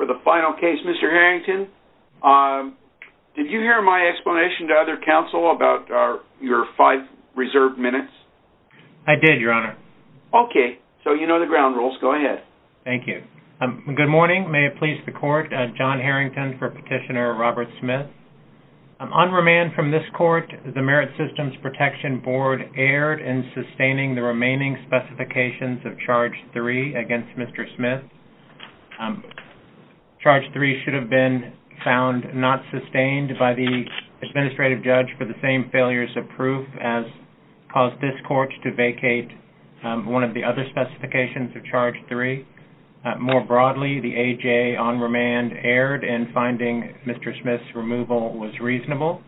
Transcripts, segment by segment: for the final case. Mr. Harrington, did you hear my explanation to other counsel about your five reserved minutes? I did, Your Honor. Okay. So you know the ground rules. Go ahead. Thank you. Good morning. May it please the Court. John Harrington for Petitioner Robert Smith. On remand from this Court, the Merit Systems Protection Board erred in sustaining the remaining specifications of Charge 3 against Mr. Smith. Charge 3 should have been found not sustained by the administrative judge for the same failures of proof as caused this Court to vacate one of the other specifications of Charge 3. More broadly, the A.J. on remand erred in finding Mr. Smith's removal was reasonable.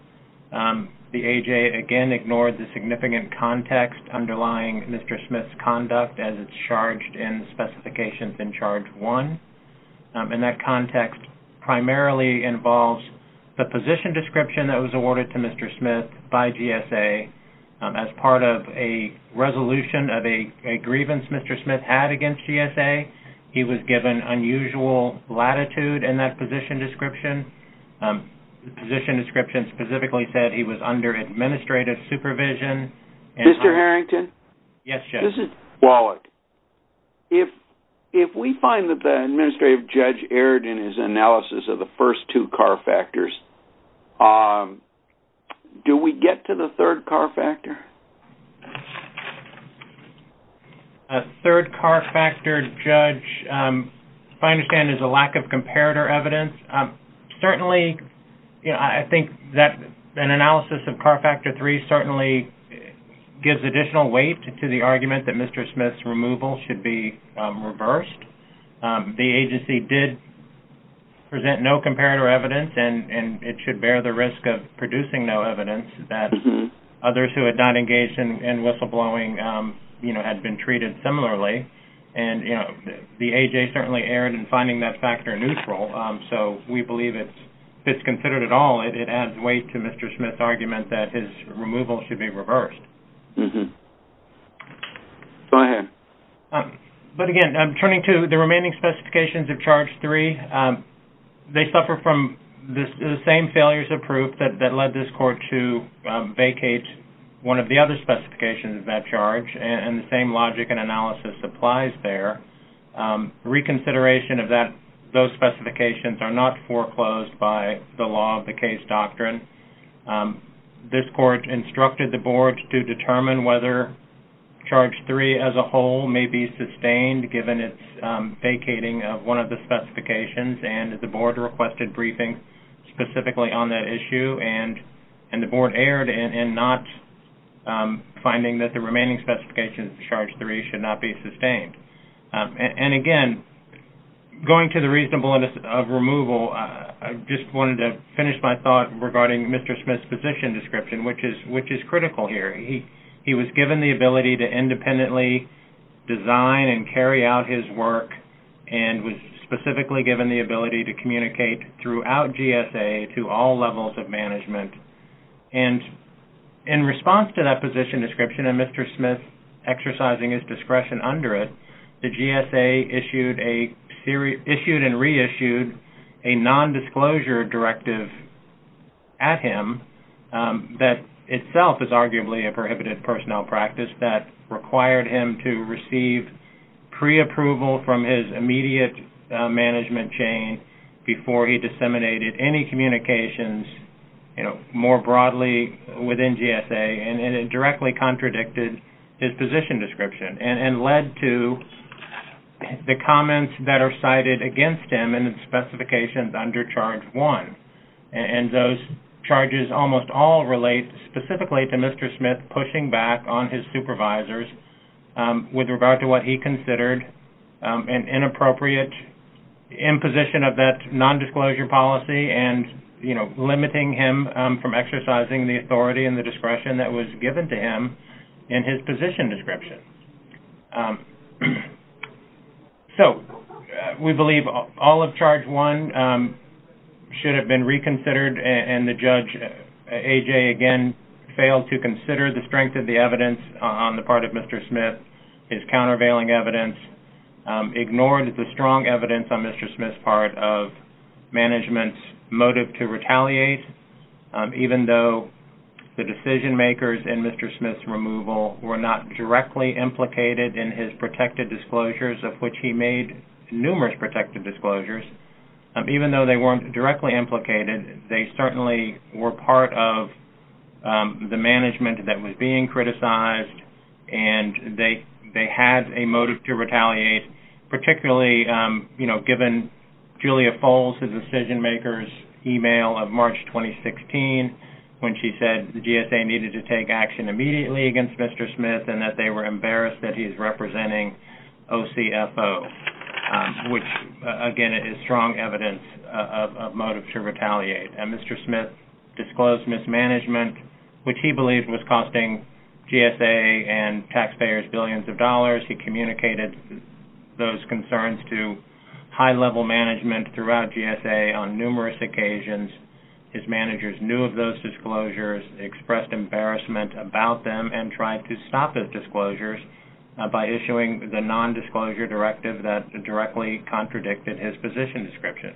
The A.J. again ignored the significant context underlying Mr. Smith's conduct as it's charged in specifications in Charge 1. And that context primarily involves the position description that was awarded to Mr. Smith by GSA as part of a resolution of a grievance Mr. Smith had against GSA. He was given unusual latitude in that position description. The position description specifically said he was under administrative supervision. Mr. Harrington? Yes, Judge. This is Wallach. If we find that the administrative judge erred in his analysis of the first two car factors, do we get to the third car factor? A third car factor, Judge, if I understand is a lack of comparator evidence. Certainly, I think that an analysis of car factor 3 certainly gives additional weight to the argument that Mr. Smith's removal should be reversed. The agency did present no comparator evidence, and it should bear the risk of producing no evidence that others who had not engaged in whistleblowing had been treated similarly. And the A.J. certainly erred in finding that factor neutral. So we believe if it's considered at all, it adds weight to Mr. Smith's argument that his removal should be reversed. Go ahead. But again, I'm turning to the remaining specifications of Charge 3. They suffer from the same failures of proof that led this court to vacate one of the other specifications of that charge, and the same logic and analysis applies there. Reconsideration of those specifications are not foreclosed by the law of the case doctrine. This court instructed the board to determine whether Charge 3 as a whole may be sustained, given its vacating of one of the specifications, and the board requested briefing specifically on that issue. And the board erred in not finding that the remaining specifications of Charge 3 should not be sustained. And again, going to the reasonableness of removal, I just wanted to finish my thought regarding Mr. Smith's position description, which is critical here. He was given the ability to independently design and carry out his work, and was specifically given the ability to respond to that position description, and Mr. Smith exercising his discretion under it, the GSA issued and reissued a nondisclosure directive at him that itself is arguably a prohibited personnel practice that required him to receive pre-approval from his immediate management chain before he disseminated any communications more broadly within GSA and it directly contradicted his position description and led to the comments that are cited against him and its specifications under Charge 1. And those charges almost all relate specifically to Mr. Smith pushing back on his supervisors with regard to what he considered an inappropriate imposition of that nondisclosure policy and, you know, limiting him from exercising the discretion that was given to him in his position description. So we believe all of Charge 1 should have been reconsidered, and the judge, A.J., again, failed to consider the strength of the evidence on the part of Mr. Smith, his countervailing evidence, ignored the strong evidence on Mr. Smith's part of management's motive to retaliate, even though the decision makers in Mr. Smith's removal were not directly implicated in his protected disclosures of which he made numerous protected disclosures. Even though they weren't directly implicated, they certainly were part of the management that was being criticized and they had a motive to retaliate, particularly, you know, given Julia Foles, the decision maker's email of GSA needed to take action immediately against Mr. Smith and that they were embarrassed that he's representing OCFO, which, again, is strong evidence of motive to retaliate. And Mr. Smith disclosed mismanagement, which he believed was costing GSA and taxpayers billions of dollars. He communicated those concerns to high-level management throughout GSA on numerous occasions. His managers knew of those disclosures, expressed embarrassment about them, and tried to stop the disclosures by issuing the nondisclosure directive that directly contradicted his position description.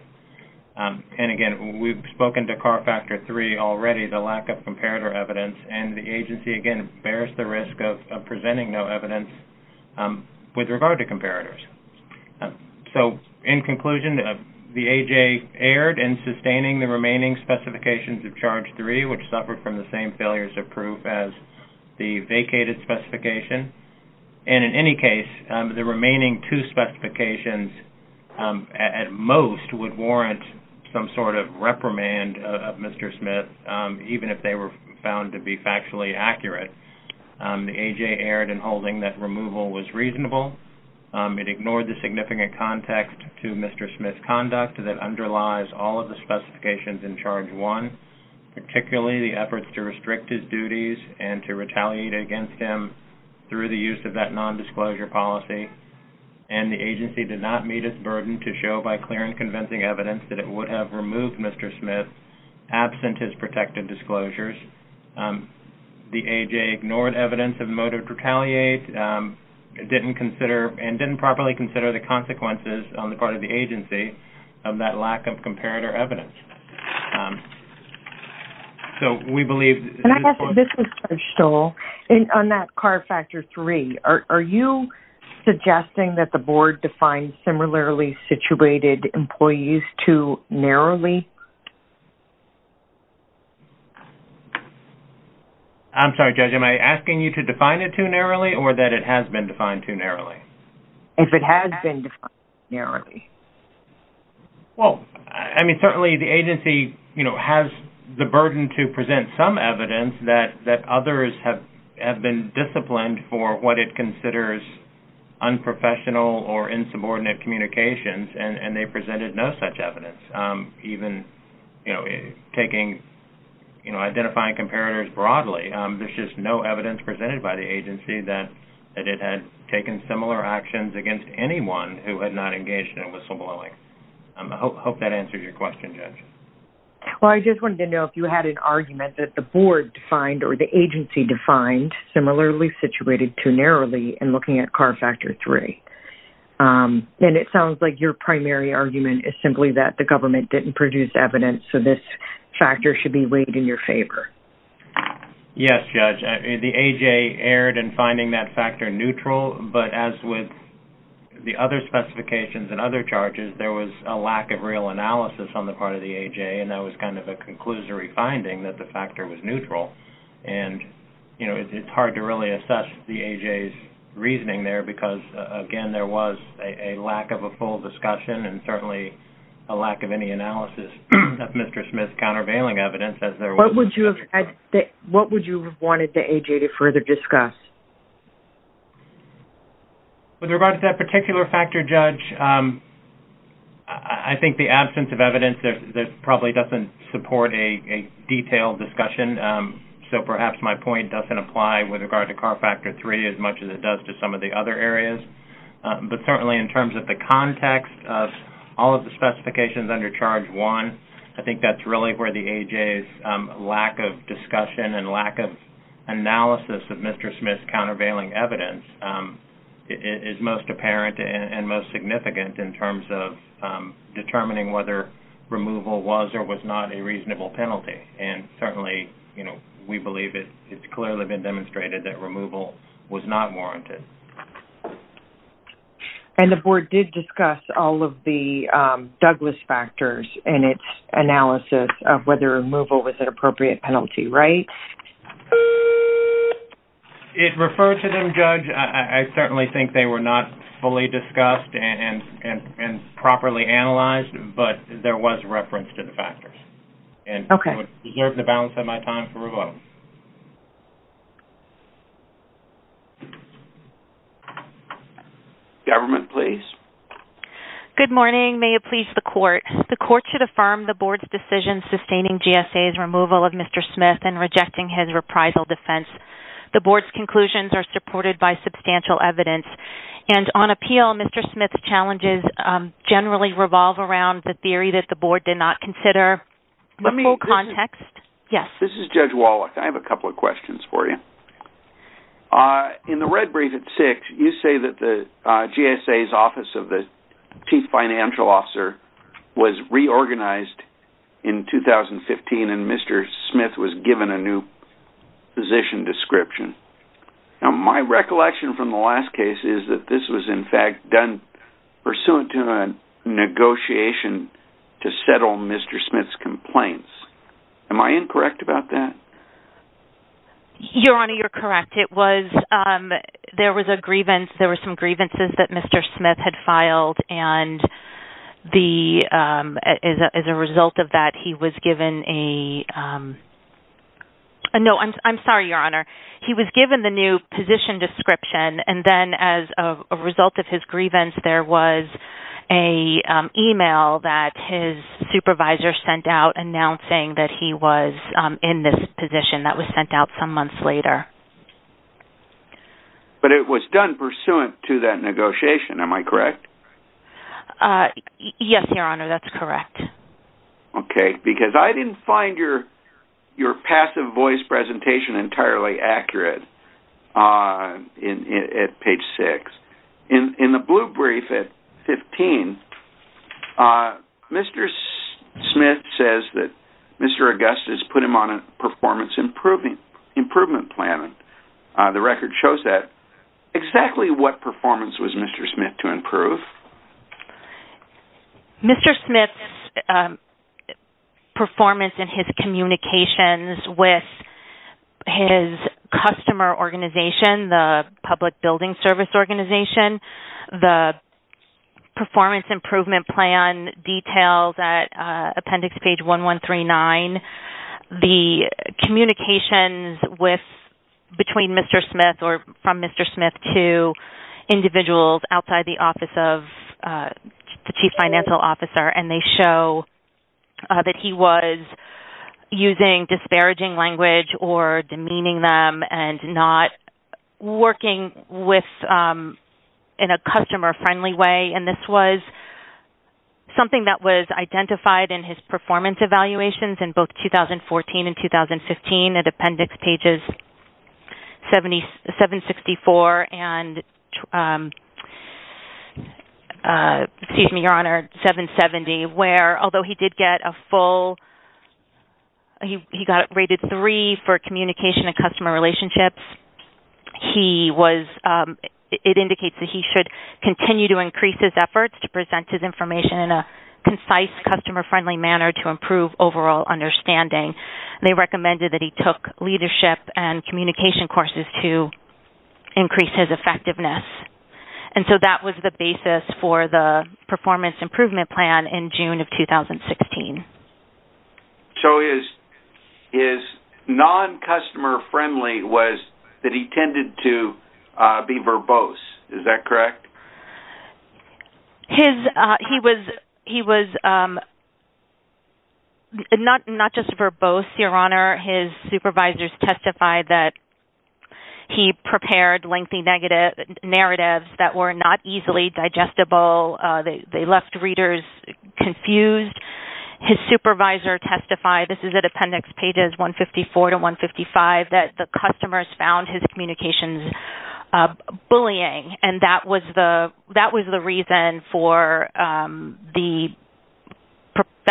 And, again, we've spoken to CAR Factor 3 already, the lack of comparator evidence, and the agency, again, bears the risk of presenting no evidence with regard to comparators. So, in conclusion, the AJ erred in sustaining the remaining specifications of Charge 3, which suffered from the same failures of proof as the vacated specification. And, in any case, the remaining two specifications, at most, would warrant some sort of reprimand of Mr. Smith, even if they were found to be false. It ignored the significant context to Mr. Smith's conduct that underlies all of the specifications in Charge 1, particularly the efforts to restrict his duties and to retaliate against him through the use of that nondisclosure policy. And the agency did not meet its burden to show, by clear and convincing evidence, that it would have removed Mr. Smith absent his protected disclosures. The AJ ignored evidence of motive to retaliate, didn't consider and didn't properly consider the consequences on the part of the agency of that lack of comparator evidence. So, we believe... And I guess, this is Judge Stoll, on that CAR Factor 3, are you suggesting that the board defined similarly situated employees too narrowly? I'm sorry, Judge, am I asking you to define it too narrowly or that it has been defined too narrowly? If it has been defined too narrowly. Well, I mean, certainly the agency has the burden to present some evidence that others have been disciplined for what it considers unprofessional or insubordinate communications, and they presented no such evidence, even taking, you know, identifying comparators broadly. There's just no evidence presented by the agency that it had taken similar actions against anyone who had not engaged in whistleblowing. I hope that answers your question, Judge. Well, I just wanted to know if you had an argument that the board defined or the agency defined similarly situated too narrowly in looking at CAR Factor 3. And it sounds like your primary argument is simply that the government didn't produce evidence, so this factor should be weighed in your favor. Yes, Judge. The AJ erred in finding that factor neutral, but as with the other specifications and other charges, there was a lack of real analysis on the part of the AJ, and that was kind of a conclusory finding that the factor was neutral. And, you know, it's hard to really assess the AJ's reasoning there, because, again, there was a lack of a full discussion and certainly a lack of any analysis of Mr. Smith's countervailing evidence, as there was... What would you have wanted the AJ to further discuss? With regard to that particular factor, Judge, I think the absence of evidence probably doesn't support a detailed discussion, so perhaps my point doesn't apply with regard to CAR Factor 3 as much as it does to some of the other areas. But certainly in terms of the context of all of the specifications under Charge 1, I think that's really where the AJ's lack of discussion and lack of analysis of Mr. Smith's countervailing evidence is most apparent and most significant in terms of determining whether removal was or was not a reasonable penalty. And certainly, you demonstrated that removal was not warranted. And the Board did discuss all of the Douglas factors in its analysis of whether removal was an appropriate penalty, right? It referred to them, Judge. I certainly think they were not fully discussed and properly analyzed, but there was reference to the factors. And it would preserve the balance of my time here. Government, please. Good morning. May it please the Court. The Court should affirm the Board's decision sustaining GSA's removal of Mr. Smith and rejecting his reprisal defense. The Board's conclusions are supported by substantial evidence. And on appeal, Mr. Smith's challenges generally revolve around the theory that the Board did not consider the full context. This is Judge Wallach. I have a couple of questions for you. In the red brief at 6, you say that GSA's Office of the Chief Financial Officer was reorganized in 2015 and Mr. Smith was given a new position description. Now, my recollection from the last case is that this was in fact done pursuant to a negotiation to settle Mr. Smith's complaints. Am I correct about that? Your Honor, you're correct. There were some grievances that Mr. Smith had filed, and as a result of that, he was given a new position description. And then as a result of his grievance, there was an email that his supervisor sent out announcing that he was in this position that was sent out some months later. But it was done pursuant to that negotiation. Am I correct? Yes, Your Honor, that's correct. Okay. Because I didn't find your passive voice presentation entirely accurate at page 6. In the blue brief at 15, Mr. Smith says that Mr. Augustus put him on a performance improvement plan. The record shows that. Exactly what performance was Mr. Smith to improve? Mr. Smith's performance in his communications with his customer organization, the public building service organization. The performance improvement plan details at appendix page 1139. The communications between Mr. Smith or from Mr. Smith to individuals outside the office of the chief financial officer, and they show that he was using disparaging language or demeaning them and not working in a customer-friendly way. And this was something that was identified in his performance evaluations in both 2014 and 2015 at appendix pages 764 and, excuse me, Your Honor, 770, where although he did get a full, he got rated 3 for his performance over communication and customer relationships, he was, it indicates that he should continue to increase his efforts to present his information in a concise, customer-friendly manner to improve overall understanding. They recommended that he took leadership and communication courses to increase his effectiveness. And so that was the basis for the performance improvement plan in June of 2016. So his non-customer-friendly was that he tended to be verbose. Is that correct? He was not just verbose, Your Honor. His supervisors testified that he prepared lengthy narratives that were not easily digestible. They left readers confused. His supervisor testified, this is at appendix pages 154 to 155, that the customers found his communications bullying. And that was the reason for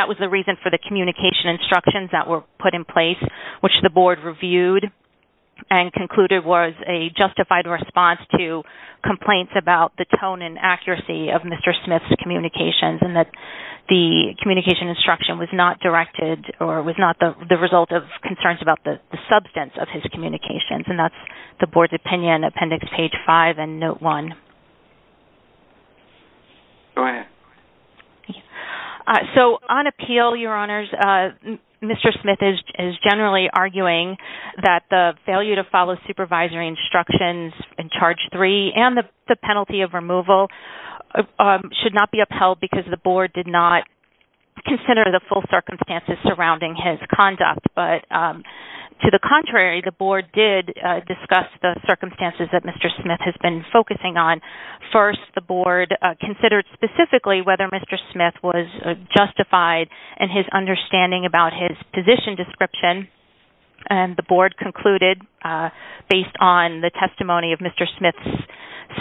the communication instructions that were put in place, which the board reviewed and concluded was a justified response to complaints about the tone and accuracy of Mr. Smith's communications and that the communication instruction was not directed or was not the result of concerns about the substance of his communications. And that's the board's opinion, appendix page 5 and note 1. Go ahead. So on appeal, Your Honors, Mr. Smith is generally arguing that the failure to follow supervisory instructions in charge 3 and the penalty of removal should not be upheld because the board did not consider the full circumstances surrounding his conduct. But to the contrary, the board did discuss the circumstances that Mr. Smith has been focusing on. First, the board considered specifically whether Mr. Smith was justified in his understanding about his position description. And the board concluded, based on the testimony of Mr. Smith's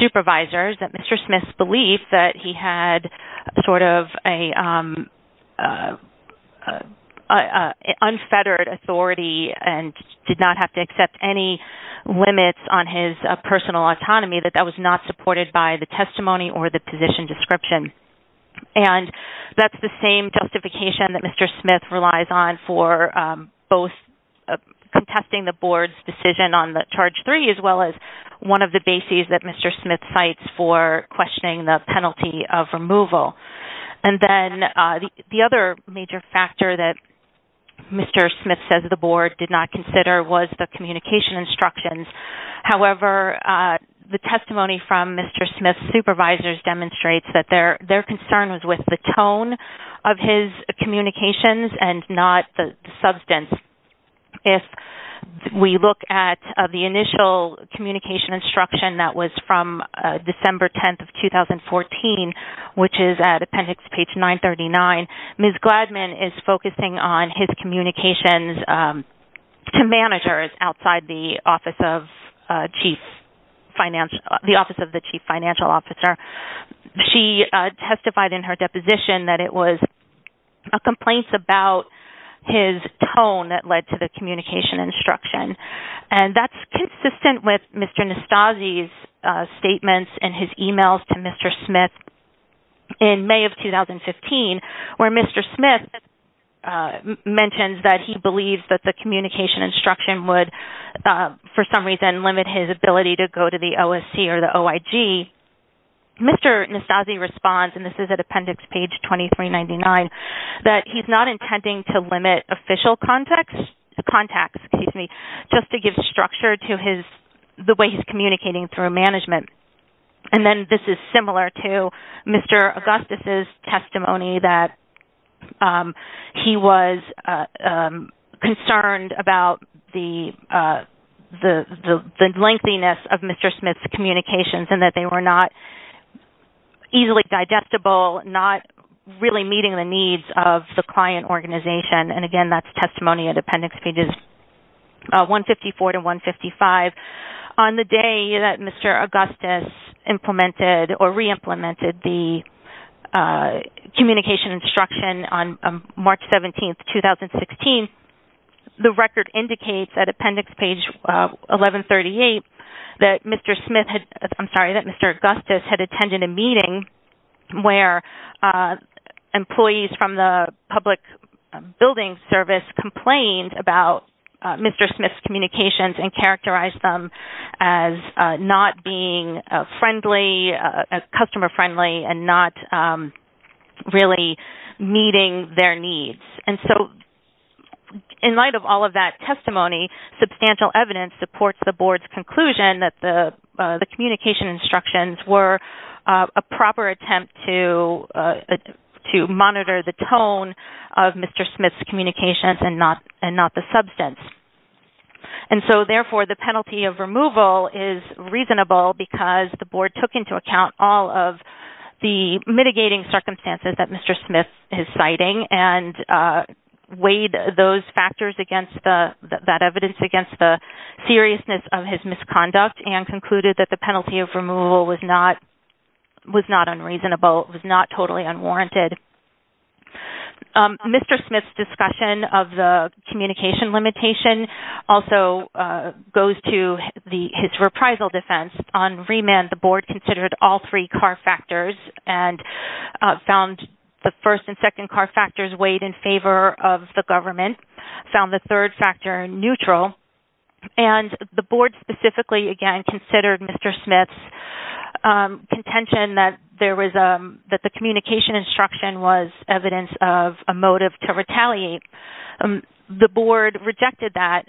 supervisors, that Mr. Smith's belief that he had sort of an unfettered authority and did not have to accept any limits on his personal autonomy, that that was not supported by the testimony or the position description. And that's the same justification that Mr. Smith relies on for both contesting the board's decision on the charge 3 as well as one of the bases that Mr. Smith cites for questioning the penalty of removal. And then the other major factor that Mr. Smith says the board did not consider was the communication instructions. However, the testimony from Mr. Smith's supervisors demonstrates that their concern was with the tone of his communications and not the substance. If we look at the initial communication instruction that was from December 10th of 2014, which is at appendix page 939, Ms. Gladman is focusing on his communications to managers outside the office of the chief financial officer. She testified in her deposition that it was a complaint about his tone that led to the communication instruction. And that's consistent with Mr. Nastassi's statements and his emails to Mr. Smith in May of 2015, where Mr. Smith mentions that he believes that the communication instruction would for some reason limit his ability to go to the OSC or the OIG. Mr. Nastassi responds and this is at appendix page 2399, that he's not intending to limit official contacts just to give structure to the way he's communicating through management. And then this is similar to Mr. Augustus' testimony that he was concerned about the lengthiness of Mr. Smith's communications and that they were not easily digestible, not really meeting the needs of the client organization. And again, that's testimony at appendix pages 154 to 155. On the day that Mr. Augustus implemented or re-implemented the communication instruction on March 17, 2016, the record indicates at appendix page 1138 that Mr. Smith had, I'm sorry, that Mr. Augustus had attended a meeting where employees from the public building service complained about Mr. Smith's communications and characterized them as not being friendly, customer friendly and not really meeting their needs. And so, in light of all of that testimony, substantial evidence supports the board's conclusion that the communication instructions were a proper attempt to monitor the tone of Mr. Smith's communications and not to substance. And so, therefore, the penalty of removal is reasonable because the board took into account all of the mitigating circumstances that Mr. Smith is citing and weighed those factors against that evidence against the seriousness of his misconduct and concluded that the penalty of removal was not unreasonable, was not totally unwarranted. Mr. Smith's discussion of the communication limitation also goes to his reprisal defense. On remand, the board considered all three car factors and found the first and second car factors weighed in favor of the government, found the third factor neutral. And the board specifically, again, considered Mr. Smith's contention that the communication instruction was evidence of a motive to retaliate. The board rejected that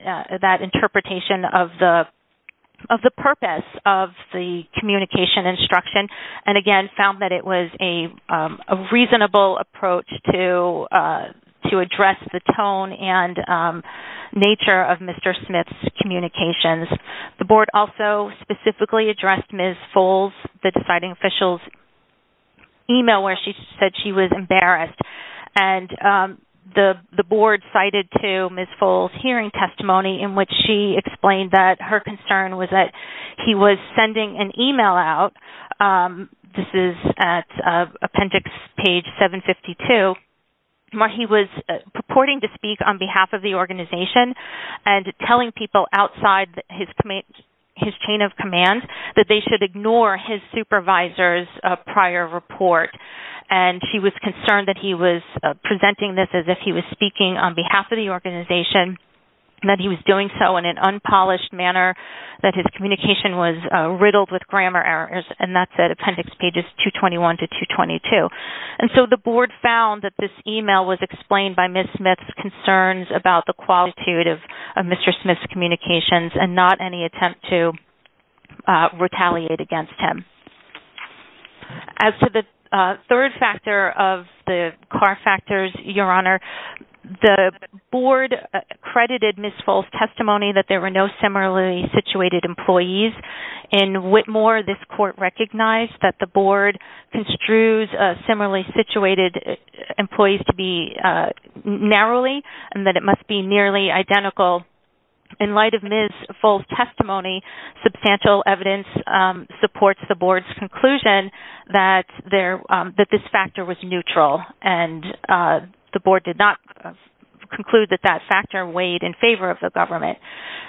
interpretation of the purpose of the communication instruction and, again, found that it was a reasonable approach to address the tone and nature of Mr. Smith's communications. The board also specifically addressed Ms. Foles, the deciding official's email where she said she was embarrassed. And the board cited to Ms. Foles' hearing testimony in which she explained that her concern was that he was sending an email out. This is at appendix page 752. He was purporting to speak on behalf of the organization and telling people outside his chain of command that they should ignore his supervisor's prior report. And he was concerned that he was presenting this as if he was speaking on behalf of the organization and that he was doing so in an unpolished manner, that his communication was riddled with grammar errors. And that's at appendix pages 221 to 222. And so the board found that this email was explained by Ms. Smith's concerns about the email and not any attempt to retaliate against him. As to the third factor of the Carr factors, Your Honor, the board credited Ms. Foles' testimony that there were no similarly situated employees. In Whitmore, this court recognized that the board construes similarly situated employees to be narrowly and that it must be nearly identical. In light of Ms. Foles' testimony, substantial evidence supports the board's conclusion that this factor was neutral. And the board did not conclude that that factor weighed in favor of the government.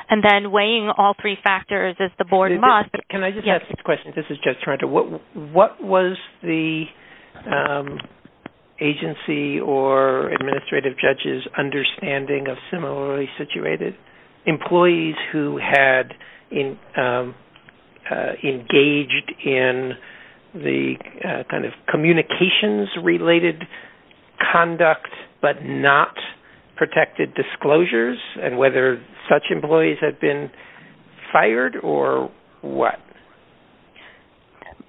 And then weighing all three factors as the board must... Can I just ask a question? This is Judge Toronto. What was the agency or administrative judge's understanding of similarly situated employees who had engaged in the kind of communications related conduct but not protected disclosures and whether such employees had been fired or what?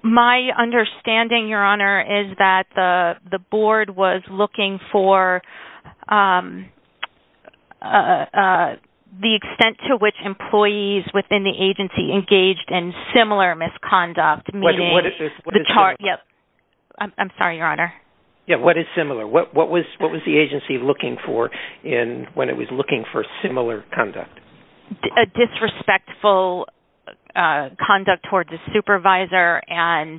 My understanding, Your Honor, is that the extent to which employees within the agency engaged in similar misconduct, meaning... What is similar? I'm sorry, Your Honor. Yeah, what is similar? What was the agency looking for when it was looking for similar conduct? A disrespectful conduct towards the supervisor and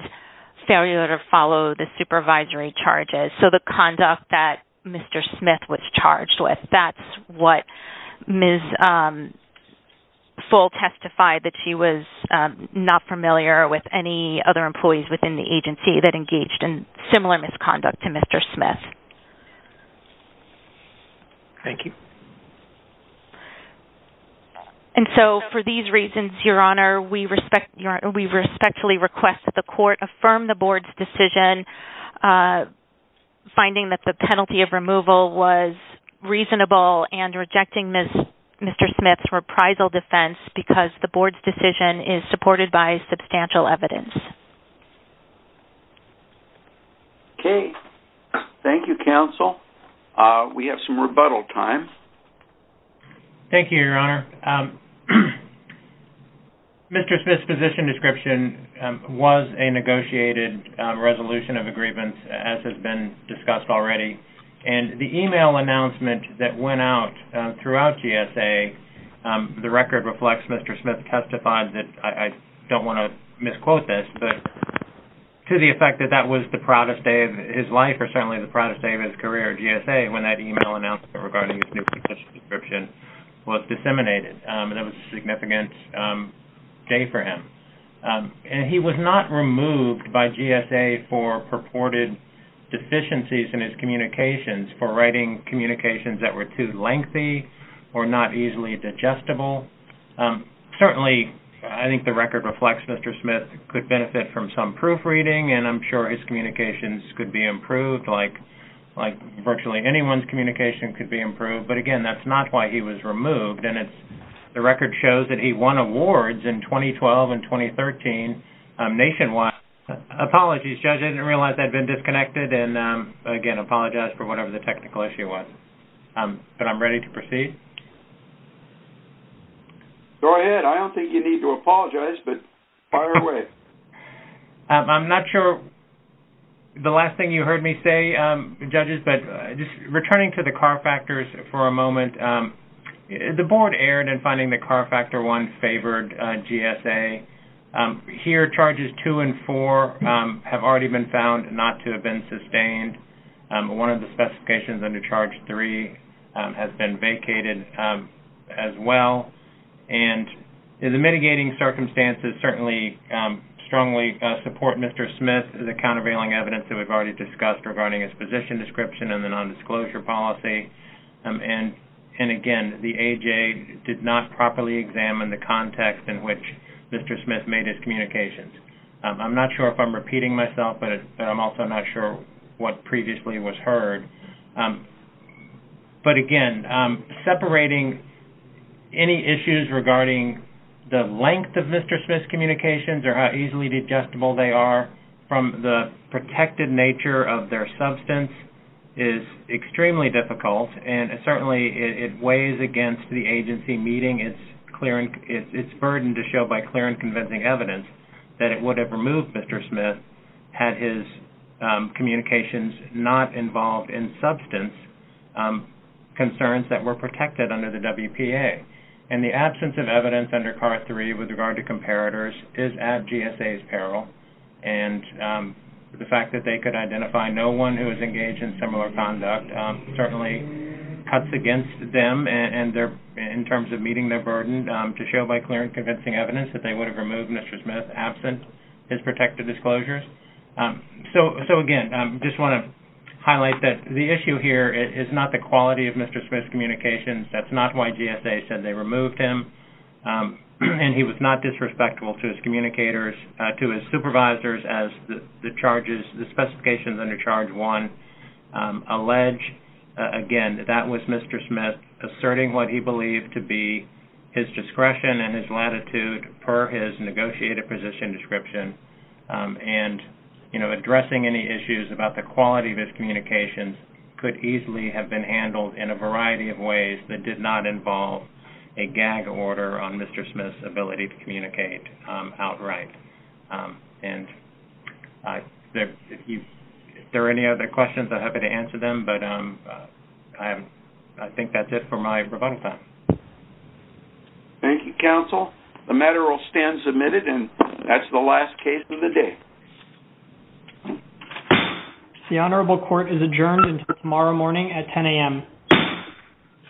failure to follow the supervisory charges. So the conduct that Mr. Smith was charged with, that's what Ms. Foles testified, that she was not familiar with any other employees within the agency that engaged in similar misconduct to Mr. Smith. Thank you. And so for these reasons, Your Honor, we respectfully request that the court affirm the board's decision, finding that the penalty of removal was reasonable and rejecting Mr. Smith's reprisal defense because the board's decision is supported by substantial evidence. Okay. Thank you, counsel. We have some rebuttal time. Thank you, Your Honor. Mr. Smith's position description was a negotiated resolution of a grievance, as has been discussed already. And the email announcement that went out throughout GSA, the record reflects Mr. Smith testified that, I don't want to misquote this, but to the effect that that was the proudest day of his life or certainly the proudest day of his career at GSA when that email announcement regarding his new position description was disseminated. And that was a significant day for him. And he was not removed by GSA for purported deficiencies in his communications, for writing communications that were too lengthy or not easily digestible. Certainly, I think the record reflects Mr. Smith could benefit from some proofreading, and I'm sure his communications could be improved, like virtually anyone's communication could be improved. But again, that's not why he was removed. And the record shows that he won awards in 2012 and 2013 nationwide. Apologies, Judge, I didn't realize that had been disconnected. And again, I apologize for whatever the technical issue was. But I'm ready to proceed. Go ahead. I don't think you need to apologize, but fire away. I'm not sure the last thing you heard me say, Judges, but just returning to the car factors for a moment, the Board erred in finding the CAR Factor 1 favored GSA. Here, Charges 2 and 4 have already been found not to have been sustained. One of the specifications under Charge 3 has been vacated as well. And the mitigating circumstances certainly strongly support Mr. Smith, the countervailing evidence that we've already discussed regarding his position description and the nondisclosure policy. And again, the AHA did not properly examine the context in which Mr. Smith made his communications. I'm not sure if I'm repeating myself, but I'm also not sure what previously was heard. But again, separating any issues regarding the length of Mr. Smith's communications or how easily digestible they are from the protected nature of their substance is extremely difficult. And certainly, it weighs against the agency meeting its burden to show by clear and convincing evidence that it would have removed Mr. Smith had his communications not involved in substance concerns that were protected under the WPA. And the absence of evidence under CAR 3 with regard to comparators is at GSA's peril. And the fact that they could identify no one who was engaged in similar conduct certainly cuts against them in terms of meeting their burden to show by clear and convincing evidence that they would have removed Mr. Smith absent his protected disclosures. So again, I just want to highlight that the issue here is not the quality of Mr. Smith's communications. That's not why GSA said they removed him. And he was not disrespectful to his communicators, to his supervisors as the charges, the specifications under Charge 1 allege. Again, that was Mr. Smith asserting what he believed to be his discretion and his latitude per his negotiated position description. And, you know, addressing any issues about the quality of his communications could easily have been handled in a variety of ways that did not involve a gag order on Mr. Smith's ability to communicate outright. And if there are any other questions, I'm happy to answer them. But I think that's it for my rebuttal time. Thank you, counsel. The matter will stand submitted. And that's the last case of the day. The Honorable Court is adjourned until tomorrow morning at 10 a.m.